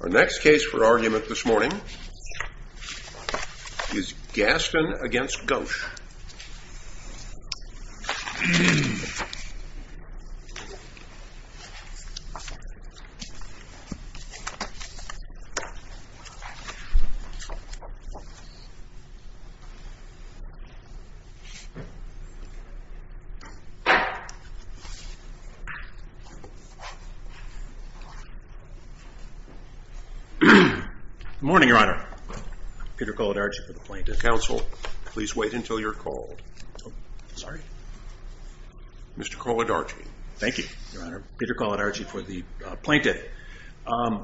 Our next case for argument this morning is Gaston v. Ghosh Good morning, Your Honor. Peter Kolodarchy for the Plaintiff. Counsel, please wait until you're called. Sorry? Mr. Kolodarchy. Thank you, Your Honor. Peter Kolodarchy for the Plaintiff.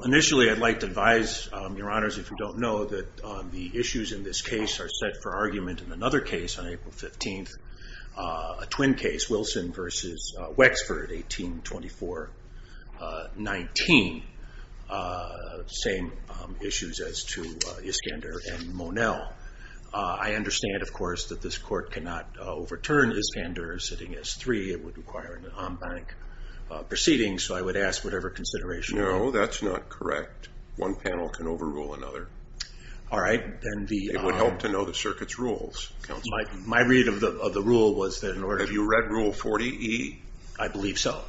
Initially, I'd like to advise, Your Honors, if you don't know, that the issues in this case are set for argument in another case on April 15th, a twin case, Wilson v. Wexford, 1824-19. Same issues as to Iskander and Monell. I understand, of course, that this Court cannot overturn Iskander sitting as 3. It would require an en banc proceeding. So I would ask whatever consideration you have. No, that's not correct. One panel can overrule another. It would help to know the circuit's rules. Have you read Rule 40E? I believe so.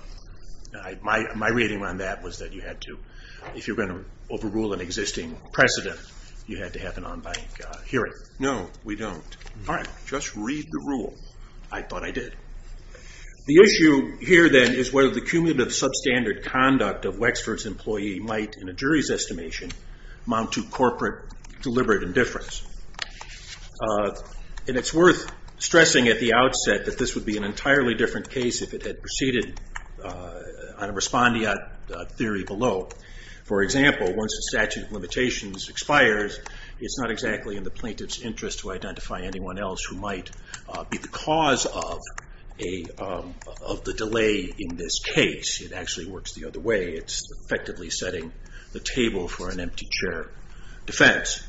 My reading on that was that if you were going to overrule an existing precedent, you had to have an en banc hearing. No, we don't. Just read the rule. I thought I did. The issue here, then, is whether the cumulative substandard conduct of Wexford's employee might, in a jury's estimation, amount to corporate deliberate indifference. It's worth stressing at the outset that this would be an entirely different case if it had proceeded on a respondeat theory below. For example, once the statute of limitations expires, it's not exactly in the plaintiff's interest to identify anyone else who might be the cause of the delay in this case. It actually works the other way. It's effectively setting the table for an empty chair defense.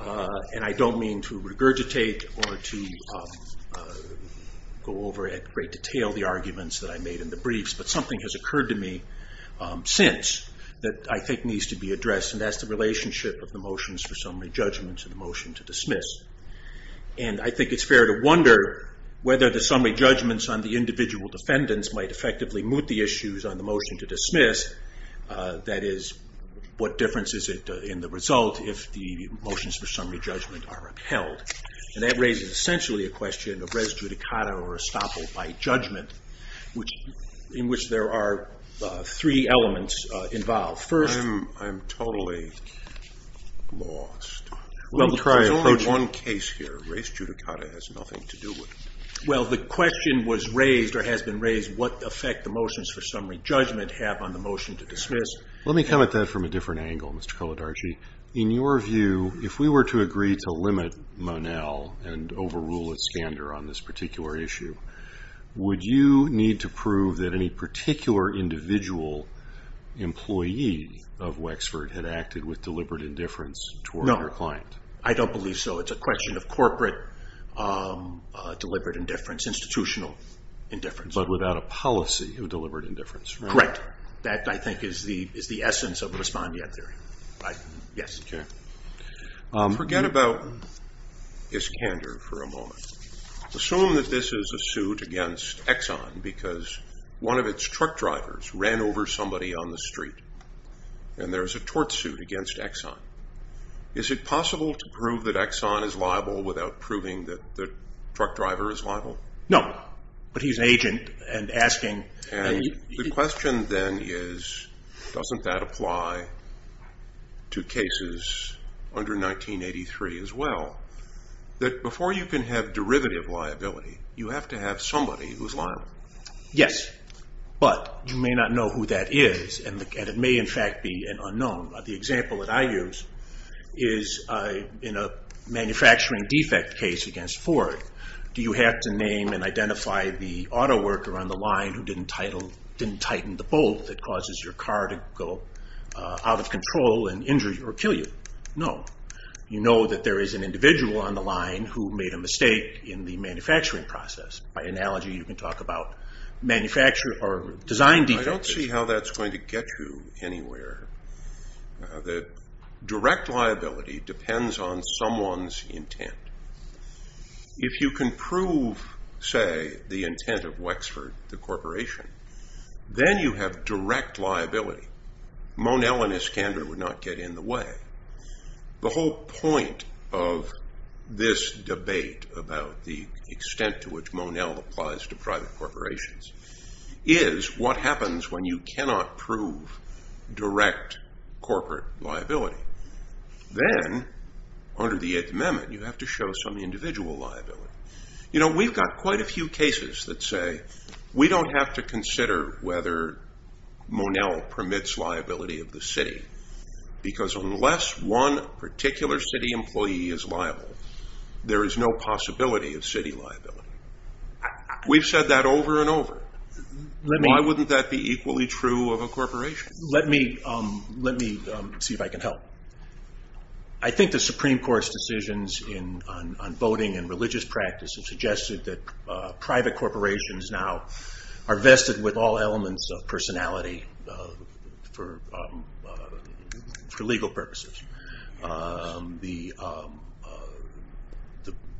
I don't mean to regurgitate or to go over in great detail the arguments that I made in the briefs, but something has occurred to me since that I think needs to be addressed, and that's the relationship of the motions for summary judgments and the motion to dismiss. I think it's fair to wonder whether the summary judgments on the individual defendants might effectively moot the issues on the motion to dismiss. That is, what difference is it in the result if the motions for summary judgment are upheld? That raises essentially a question of res judicata or estoppel by judgment, in which there are three elements involved. I'm totally lost. There's only one case here. Res judicata has nothing to do with it. Well, the question was raised, or has been raised, what effect the motions for summary judgment have on the motion to dismiss. Let me come at that from a different angle, Mr. Kolodarchy. In your view, if we were to agree to limit whether an employee of Wexford had acted with deliberate indifference toward their client? No. I don't believe so. It's a question of corporate deliberate indifference, institutional indifference. But without a policy of deliberate indifference, right? Correct. That, I think, is the essence of the respondeat theory. Forget about Iskander for a moment. Assume that this is a suit against Exxon, because one of its truck drivers ran over somebody on the street, and there's a tort suit against Exxon. Is it possible to prove that Exxon is liable without proving that the truck driver is liable? No. But he's an agent and asking... And the question then is, doesn't that apply to cases under 1983 as well? That before you can have derivative liability, you have to have somebody who's liable. Yes. But you may not know who that is, and it may in fact be an unknown. The example that I use is in a manufacturing defect case against Ford. Do you have to name and identify the out-of-control and injure you or kill you? No. You know that there is an individual on the line who made a mistake in the manufacturing process. By analogy, you can talk about design defects. I don't see how that's going to get you anywhere. The direct liability depends on someone's intent. If you can prove, say, the intent of The whole point of this debate about the extent to which Monell applies to private corporations is what happens when you cannot prove direct corporate liability. Then, under the Eighth Amendment, you have to show some individual liability. You know, we've got quite a few cases that say we don't have to consider whether Monell permits liability of the city because unless one particular city employee is liable, there is no possibility of city liability. We've said that over and over. Why wouldn't that be equally true of a corporation? Let me see if I can help. I think the Supreme Court's on voting and religious practice have suggested that private corporations now are vested with all elements of personality for legal purposes.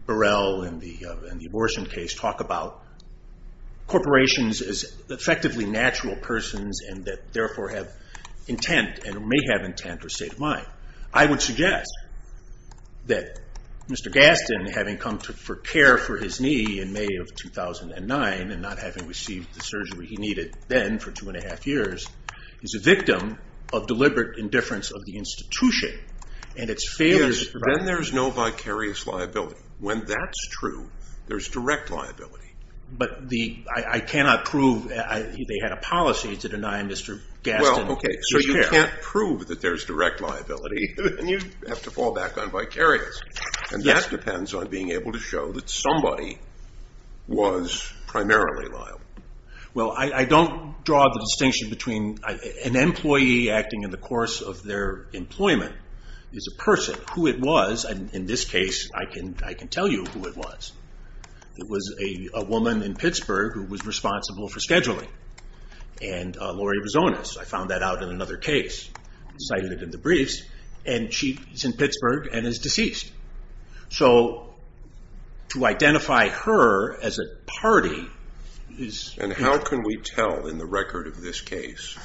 Burrell and the abortion case talk about corporations as effectively natural persons and that therefore have intent or state of mind. I would suggest that Mr. Gaston, having come for care for his knee in May of 2009 and not having received the surgery he needed then for two and a half years, is a victim of deliberate indifference of the institution and its failure to provide Then there's no vicarious liability. When that's true, there's direct liability. They had a policy to deny Mr. Gaston his care. You can't prove that there's direct liability and you have to fall back on vicarious. That depends on being able to show that somebody was primarily liable. I don't draw the distinction between an employee acting in the course of their employment as a person, who it was. In this case, I can tell you who it was. It was a woman in Pittsburgh who was responsible for scheduling. I found that out in another case. I cited it in the briefs. She's in Pittsburgh and is deceased. To identify her as a party... How can we tell in the record of this case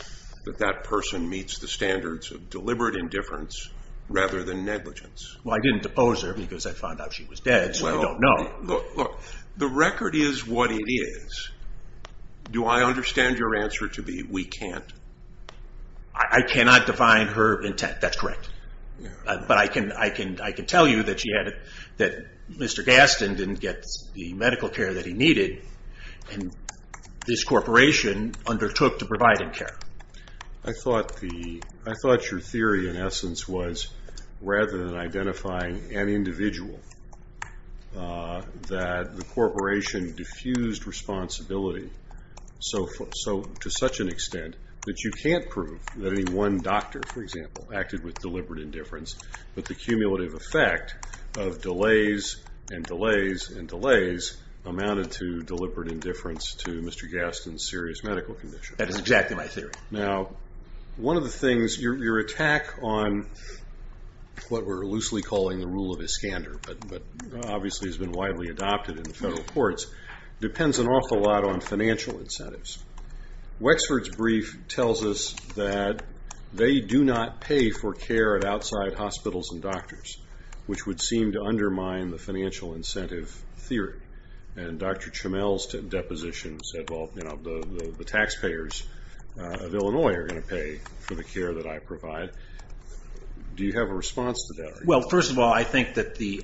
that that person meets the standards of deliberate indifference rather than negligence? I didn't depose her because I found out she was dead. The record is what it is. Do I understand your answer to be we can't? I cannot define her intent. That's correct. I can tell you that Mr. Gaston didn't get the medical care that he needed and this corporation undertook to provide him care. I thought your theory in essence was rather than identifying an individual, that the corporation diffused responsibility to such an extent that you can't prove that only one doctor, for example, acted with deliberate indifference, but the cumulative effect of delays and delays and delays amounted to deliberate indifference to Mr. Gaston's serious medical condition. That is exactly my theory. Your attack on what we're loosely calling the rule of Iskander, but obviously has been widely adopted in the federal courts, depends an awful lot on financial incentives. Wexford's brief tells us that they do not pay for care at outside hospitals and doctors, which would seem to undermine the financial incentive theory. Dr. Chmiel's deposition said the taxpayers of Illinois are going to pay for the care that I provide. Do you have a response to that? First of all, I think that the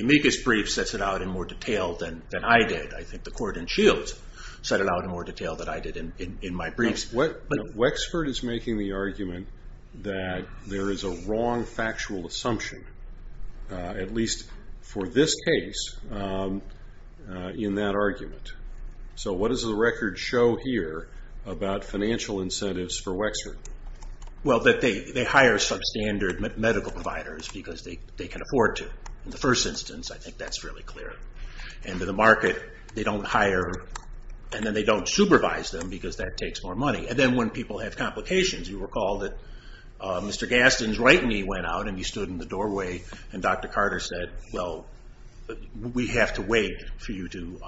amicus brief sets it out in more detail than I did. I think the court in Shields set it out in more detail than I did in my briefs. Wexford is making the argument that there is a wrong factual assumption, at least for this case, in that argument. What does the record show here about financial incentives for Wexford? Well, that they hire substandard medical providers because they can afford to. In the first instance, I think that's fairly clear. And in the market, they don't hire and then they don't supervise them because that takes more money. And then when people have complications, you recall that Mr. Gaston's right knee went out and he stood in the doorway and Dr. Carter said, well, we have to wait for you to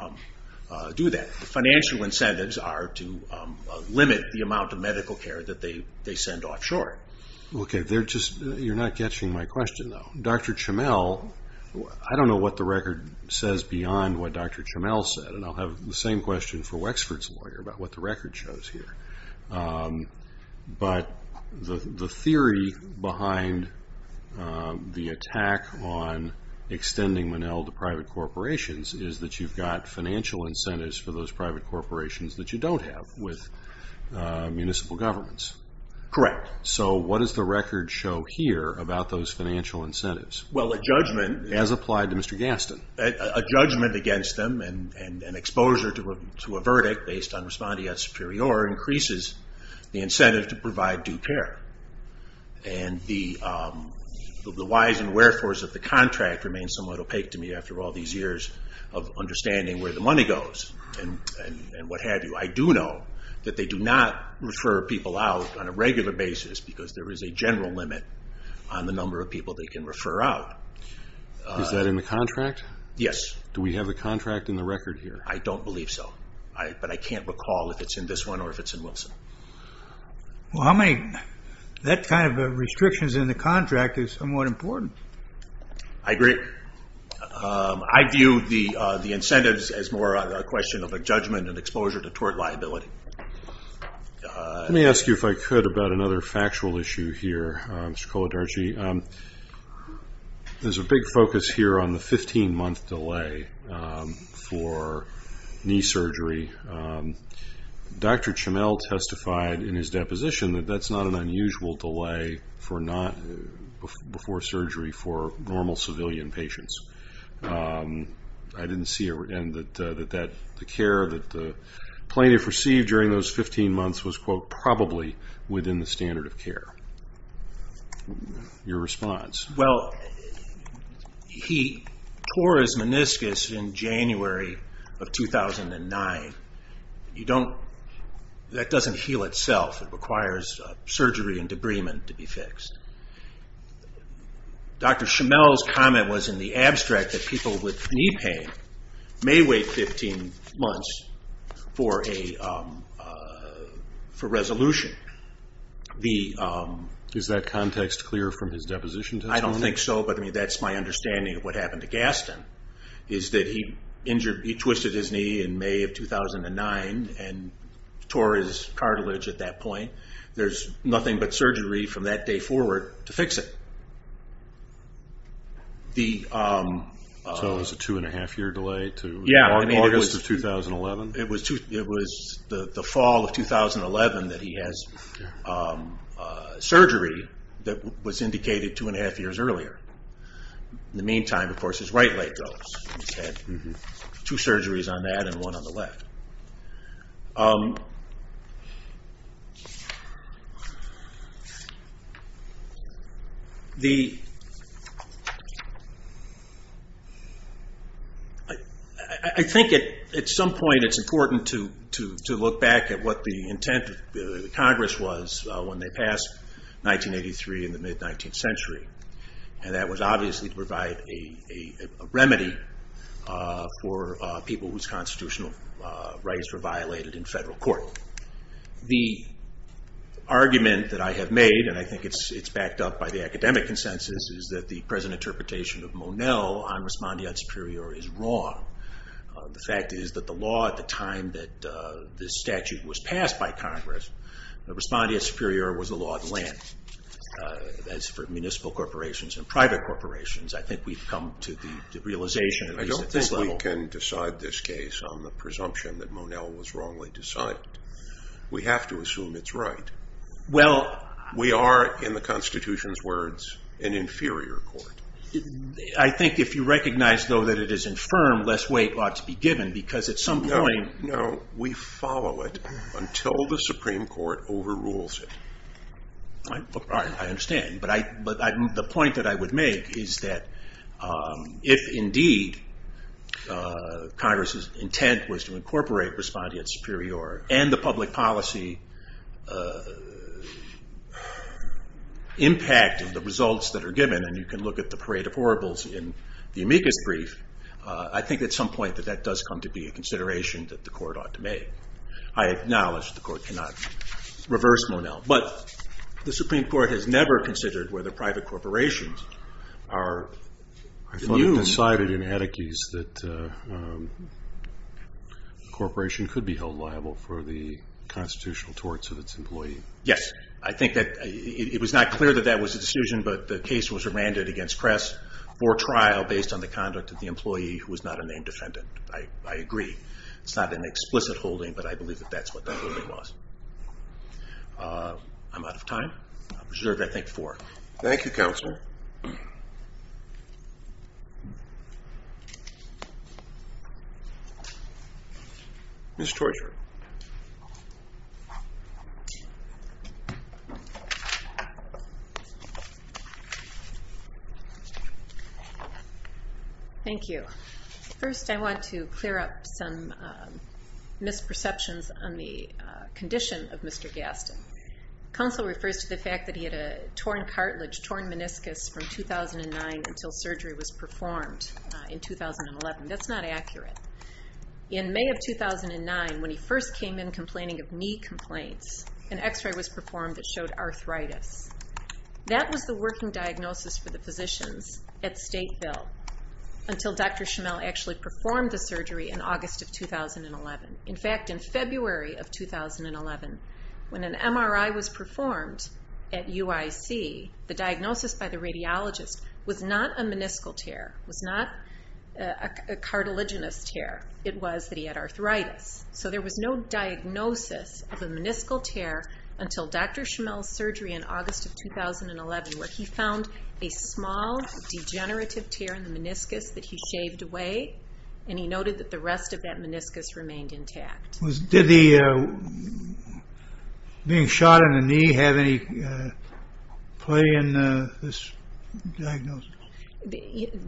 do that. Financial incentives are to limit the amount of medical care that they send offshore. You're not catching my question though. Dr. Chmiel, I don't know what the record says beyond what Dr. Chmiel said. And I'll have the same question for Wexford's lawyer about what the record shows here. But the theory behind the attack on extending Monell to private corporations is that you've got financial incentives for those private corporations that you don't have with municipal governments. Correct. So what does the record show here about those financial incentives as applied to Mr. Gaston? A judgment against them and exposure to a verdict based on respondeat superior increases the incentive to provide due care. And the whys and wherefores of the contract remain somewhat opaque to me after all these years of understanding where the money goes and what have you. I do know that they do not refer people out on a regular basis because there is a general limit on the number of people they can refer out. Is that in the contract? Yes. Do we have the contract in the record here? I don't believe so. But I can't recall if it's in this one or if it's in Wilson. Well, that kind of restriction is in the contract is somewhat important. I agree. I view the incentives as more a question of a judgment and exposure to There's a big focus here on the 15 month delay for knee surgery. Dr. Chamel testified in his deposition that that's not an unusual delay before surgery for normal civilian patients. I didn't see it. And that the care that the plaintiff received during those 15 months was, quote, probably within the standard of care. Your response? Well, he tore his meniscus in January of 2009. That doesn't heal itself. It requires surgery and debridement to be fixed. Dr. Chamel's comment was in the abstract that people with knee pain may wait 15 months for resolution. Is that context clear from his deposition? I don't think so, but that's my understanding of what happened to Gaston. He twisted his knee in May of 2009 and tore his cartilage at that point. There's nothing but surgery from that day forward to fix it. So it was a two and a half year delay to August of 2011? It was the fall of 2011 that he had surgery that was indicated two and a half years earlier. In the meantime, of course, his right leg does. He's had two surgeries on that and one on the left. I think at some point it's important to look back at what the intent of Congress was when they passed 1983 in the mid-19th century. That was obviously to provide a remedy for people whose constitutional rights were violated in federal court. The argument that I have made, and I think it's backed up by the academic consensus, is that the present interpretation of Monell on Respondeat Superior is wrong. The fact is that the law at the time that this statute was passed by Congress, Respondeat Superior was the law of the land. As for municipal corporations and private corporations, I think we've come to the realization... I don't think we can decide this case on the presumption that Monell was wrongly decided. We have to assume it's right. We are, in the Constitution's words, an inferior court. I think if you recognize though that it is infirm, less weight ought to be given because at some point... No, we follow it until the Supreme Court overrules it. I understand, but the point that I would make is that if indeed Congress's intent was to incorporate Respondeat Superior and the public policy impact of the results that are given, and you can look at the parade of horribles in the amicus brief, I think at some point that that does come to be a consideration that the court ought to make. I acknowledge the court cannot reverse Monell, but the Supreme Court has never considered whether private corporations are... I thought it decided in Atticus that a corporation could be held liable for the constitutional torts of its employee. Yes. I think that it was not clear that that was a decision, but the case was remanded against Kress for trial based on the conduct of the employee who was not a named defendant. I agree. It's not an explicit holding, but I believe that that's what that holding was. I'm out of time. Thank you, Counselor. Ms. Torchardt. Thank you. First, I want to clear up some of the fact that he had a torn cartilage, torn meniscus from 2009 until surgery was performed in 2011. That's not accurate. In May of 2009, when he first came in complaining of knee complaints, an X-ray was performed that showed arthritis. That was the working diagnosis for the physicians at Stateville until Dr. Schimel actually performed the surgery in August of 2011. In fact, in February of 2011, when an MRI was performed at UIC, the diagnosis by the radiologist was not a meniscal tear, was not a cartilaginous tear. It was that he had arthritis. So there was no diagnosis of a meniscal tear until Dr. Schimel's surgery in August of 2011, where he found a small degenerative tear in the knee.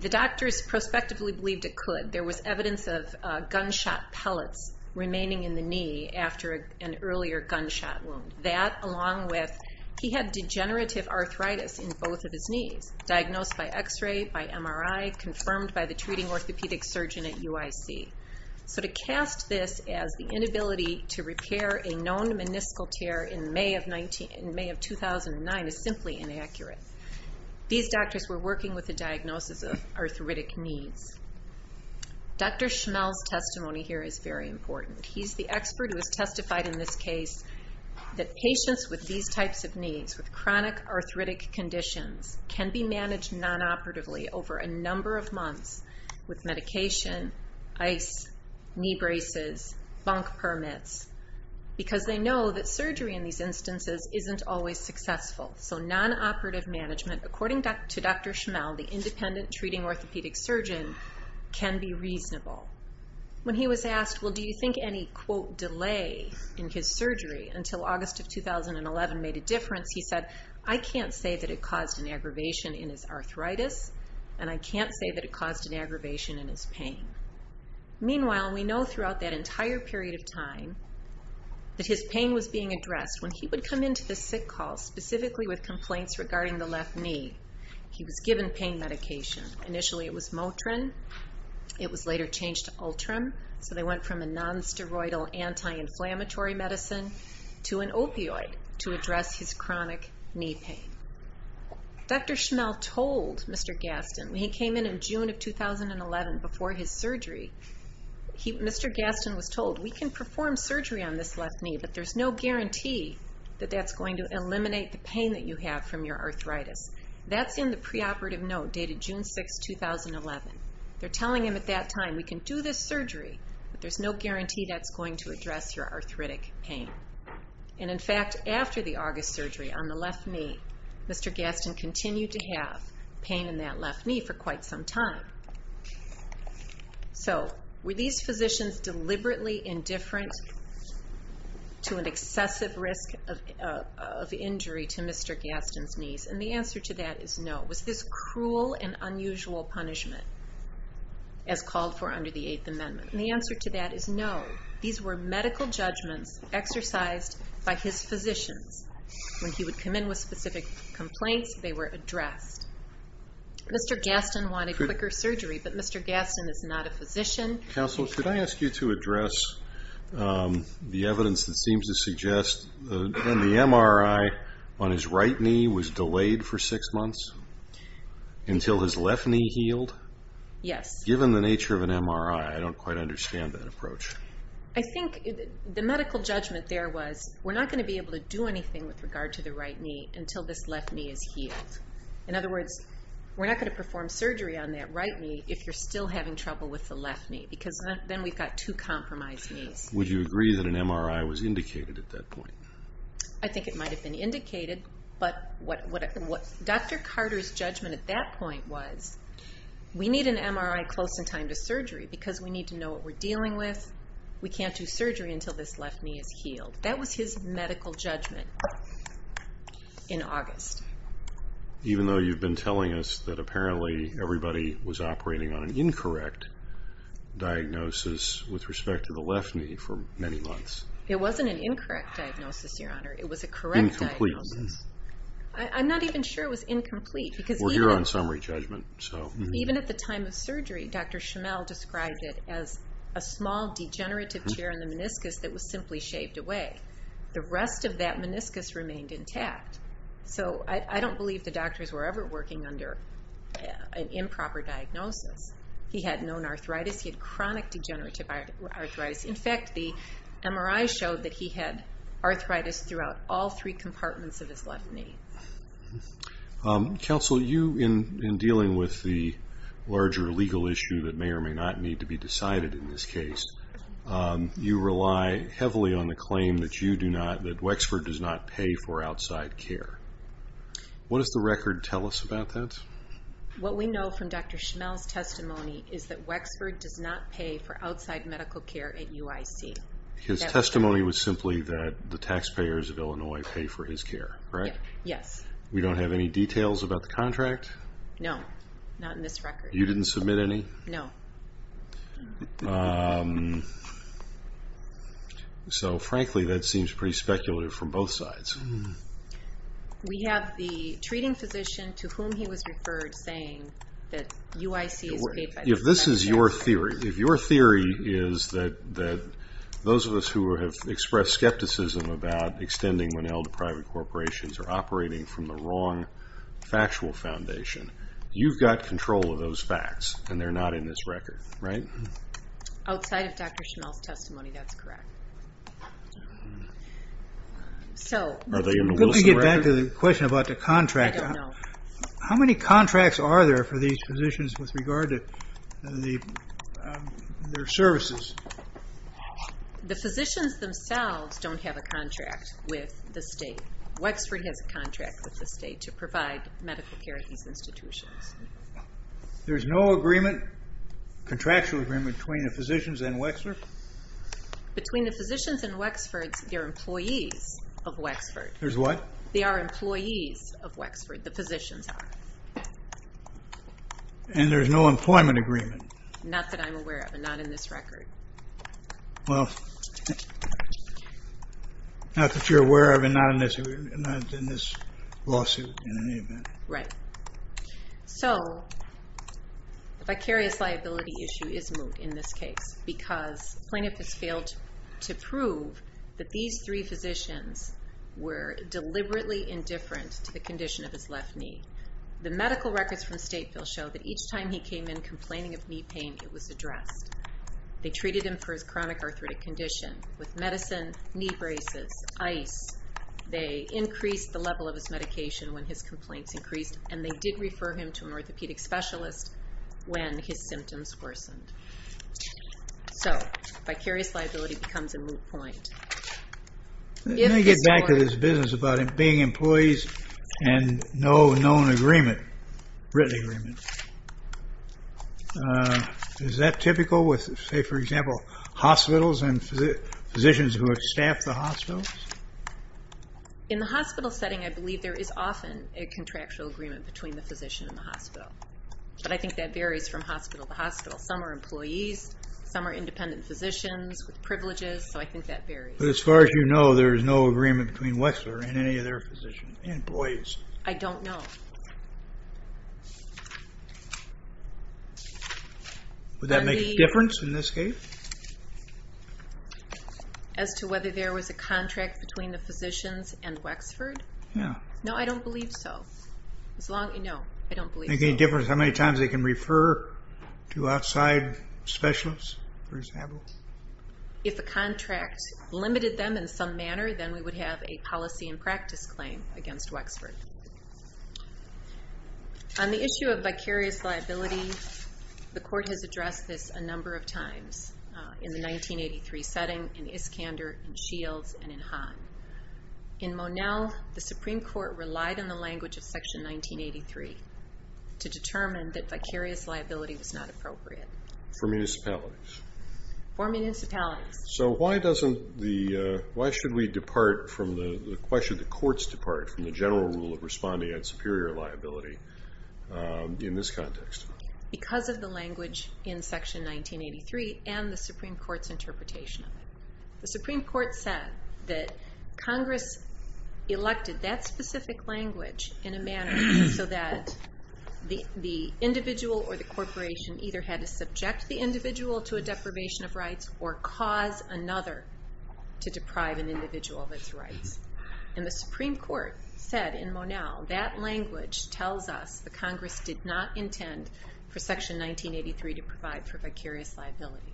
The doctors prospectively believed it could. There was evidence of gunshot pellets remaining in the knee after an earlier gunshot wound. That, along with he had degenerative arthritis in both of his knees, diagnosed by X-ray, by MRI, confirmed by the treating orthopedic surgeon at UIC. So to cast this as the inability to repair a known meniscal tear in May of 2009 is simply inaccurate. These doctors were working with a diagnosis of arthritic needs. Dr. Schimel's testimony here is very important. He's the expert who has testified in this case that patients with these types of needs, with chronic arthritic conditions, can be managed non-operatively over a number of months with medication, ice, knee braces, bunk permits, because they know that surgery in these instances isn't always successful. So non-operative management, according to Dr. Schimel, the independent treating orthopedic surgeon, can be reasonable. When he was asked, well, do you think any, quote, delay in his surgery until August of 2011 made a difference, he said, I can't say that it caused an aggravation in his pain. Meanwhile, we know throughout that entire period of time that his pain was being addressed. When he would come into the sick hall, specifically with complaints regarding the left knee, he was given pain medication. Initially it was Motrin. It was later changed to Ultram, so they went from a non-steroidal anti-inflammatory medicine to an opioid to address his chronic knee pain. Dr. Schimel told Mr. Gaston, when he came in and in June of 2011 before his surgery, Mr. Gaston was told, we can perform surgery on this left knee, but there's no guarantee that that's going to eliminate the pain that you have from your arthritis. That's in the preoperative note dated June 6, 2011. They're telling him at that time, we can do this surgery, but there's no guarantee that's going to address your arthritic pain. And in fact, after the August surgery on the left knee, Mr. Gaston continued to have pain in that left knee for quite some time. So were these physicians deliberately indifferent to an excessive risk of injury to Mr. Gaston's knees? And the answer to that is no. Was this cruel and unusual punishment as called for under the Eighth Amendment? And the answer to that is no. These were medical judgments exercised by his physicians. When he would come in with specific complaints, they were addressed. Mr. Gaston wanted quicker surgery, but Mr. Gaston is not a physician. Counsel, could I ask you to address the evidence that seems to suggest that when the MRI on his right knee was delayed for six months until his left knee healed? Yes. Given the nature of an MRI, I don't quite understand that approach. I think the medical judgment there was, we're not going to be able to do anything with regard to the right knee until this left knee is healed. In other words, we're not going to perform surgery on that right knee if you're still having trouble with the left knee, because then we've got two compromised knees. Would you agree that an MRI was indicated at that point? I think it might have been indicated, but what Dr. Carter's judgment at that point was, we need an MRI close in time to we can't do surgery until this left knee is healed. That was his medical judgment in August. Even though you've been telling us that apparently everybody was operating on an incorrect diagnosis with respect to the left knee for many months. It wasn't an incorrect diagnosis, Your Honor. It was a correct diagnosis. Incomplete. I'm not even sure it was incomplete. We're here on summary judgment. Even at the time of surgery, Dr. Chamel described it as a small degenerative tear in the meniscus that was simply shaved away. The rest of that meniscus remained intact. I don't believe the doctors were ever working under an improper diagnosis. He had known arthritis. He had chronic degenerative arthritis. In fact, the MRI showed that he had arthritis throughout all three compartments of his left knee. Counsel, you, in dealing with the larger legal issue that may or may not need to be decided in this case, you rely heavily on the claim that you do not, that Wexford does not pay for outside care. What does the record tell us about that? What we know from Dr. Chamel's testimony is that Wexford does not pay for outside medical care at UIC. His testimony was simply that the taxpayers of Illinois pay for his care, right? Yes. We don't have any details about the contract? No, not in this record. You didn't submit any? No. So, frankly, that seems pretty speculative from both sides. We have the treating physician to whom he was referred saying that UIC is paid by the taxpayer. If this is your theory, if your theory is that those of us who have expressed skepticism about extending when elder private corporations are operating from the wrong factual foundation, you've got control of those facts, and they're not in this record, right? Outside of Dr. Chamel's testimony, that's correct. Are they in the Wilson record? Good to get back to the question about the contract. I don't know. How many contracts are there for these physicians with regard to their services? The physicians themselves don't have a contract with the state. Wexford has a contract with the state to provide medical care at these institutions. There's no agreement, contractual agreement, between the physicians and Wexford? Between the physicians and Wexford, they're employees of Wexford. There's what? They are employees of Wexford, the physicians are. And there's no employment agreement? Not that I'm aware of and not in this record. Well, not that you're aware of and not in this lawsuit in any event. Right. So, the vicarious liability issue is moot in this case because plaintiff has failed to prove that these three physicians were deliberately indifferent to the condition of his left knee. The medical records from Stateville show that each time he came in complaining of knee pain, it was addressed. They treated him for his chronic arthritic condition with medicine, knee braces, ice. They increased the level of his medication when his complaints increased and they did refer him to an orthopedic specialist when his symptoms worsened. So, vicarious liability becomes a moot point. Let me get back to this business about being employees and no known written agreement. Is that typical with, say for example, hospitals and physicians who have staffed the hospitals? In the hospital setting, I believe there is often a contractual agreement between the physician and the hospital. But I think that varies from hospital to hospital. Some are employees, some are independent physicians with privileges, so I think that varies. But as far as you know, there is no agreement between Wexler and any of their employees. I don't know. Would that make a difference in this case? As to whether there was a contract between the physicians and Wexford? Yeah. No, I don't believe so. No, I don't believe so. Make any difference how many times they can refer to outside specialists, for example? If a contract limited them in some manner, then we would have a policy and practice claim against Wexford. On the issue of vicarious liability, the court has addressed this a number of times. In the 1983 setting, in Iskander, in Shields, and in Hahn. In Monell, the Supreme Court relied on the language of Section 1983 to determine that vicarious liability was not appropriate. For municipalities? For municipalities. So why should the courts depart from the general rule of responding on superior liability in this context? Because of the language in Section 1983 and the Supreme Court's interpretation of it. The Supreme Court said that Congress elected that specific language in a manner so that the individual or the corporation either had to subject the individual to a deprivation of rights or cause another to deprive an individual of its rights. And the Supreme Court said in Monell, that language tells us that Congress did not intend for Section 1983 to provide for vicarious liability.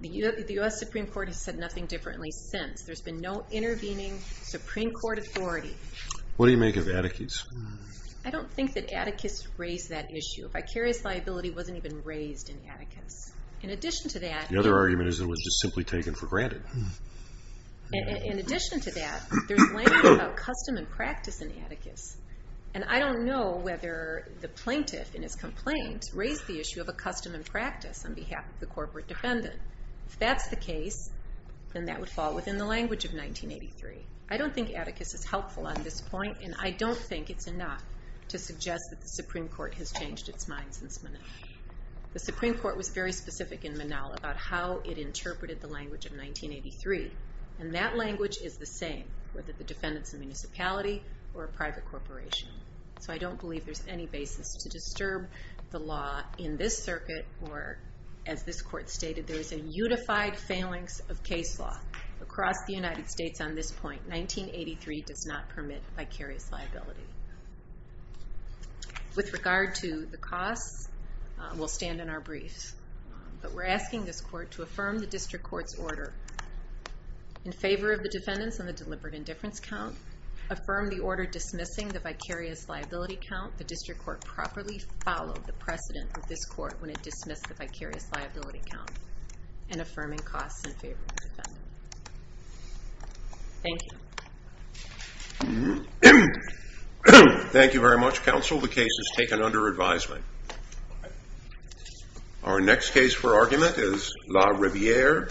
The U.S. Supreme Court has said nothing differently since. There's been no intervening Supreme Court authority. What do you make of Atticus? I don't think that Atticus raised that issue. Vicarious liability wasn't even raised in Atticus. In addition to that... The other argument is that it was just simply taken for granted. In addition to that, there's language about custom and practice in Atticus. And I don't know whether the plaintiff, in his complaint, raised the issue of a custom and practice on behalf of the corporate defendant. If that's the case, then that would fall within the language of 1983. I don't think Atticus is helpful on this point, and I don't think it's enough to suggest that the Supreme Court has changed its mind since Monell. The Supreme Court was very specific in Monell about how it interpreted the language of 1983. And that language is the same, whether the defendant's a municipality or a private corporation. So I don't believe there's any basis to disturb the law in this circuit, or, as this Court stated, there is a unified phalanx of case law across the United States on this point. 1983 does not permit vicarious liability. With regard to the costs, we'll stand in our briefs. But we're asking this Court to affirm the District Court's order in favor of the defendants on the deliberate indifference count, affirm the order dismissing the vicarious liability count, the District Court properly followed the precedent of this Court when it dismissed the vicarious liability count, and affirming costs in favor of the defendant. Thank you. Thank you very much, Counsel. The case is taken under advisement. Our next case for argument is La Riviere.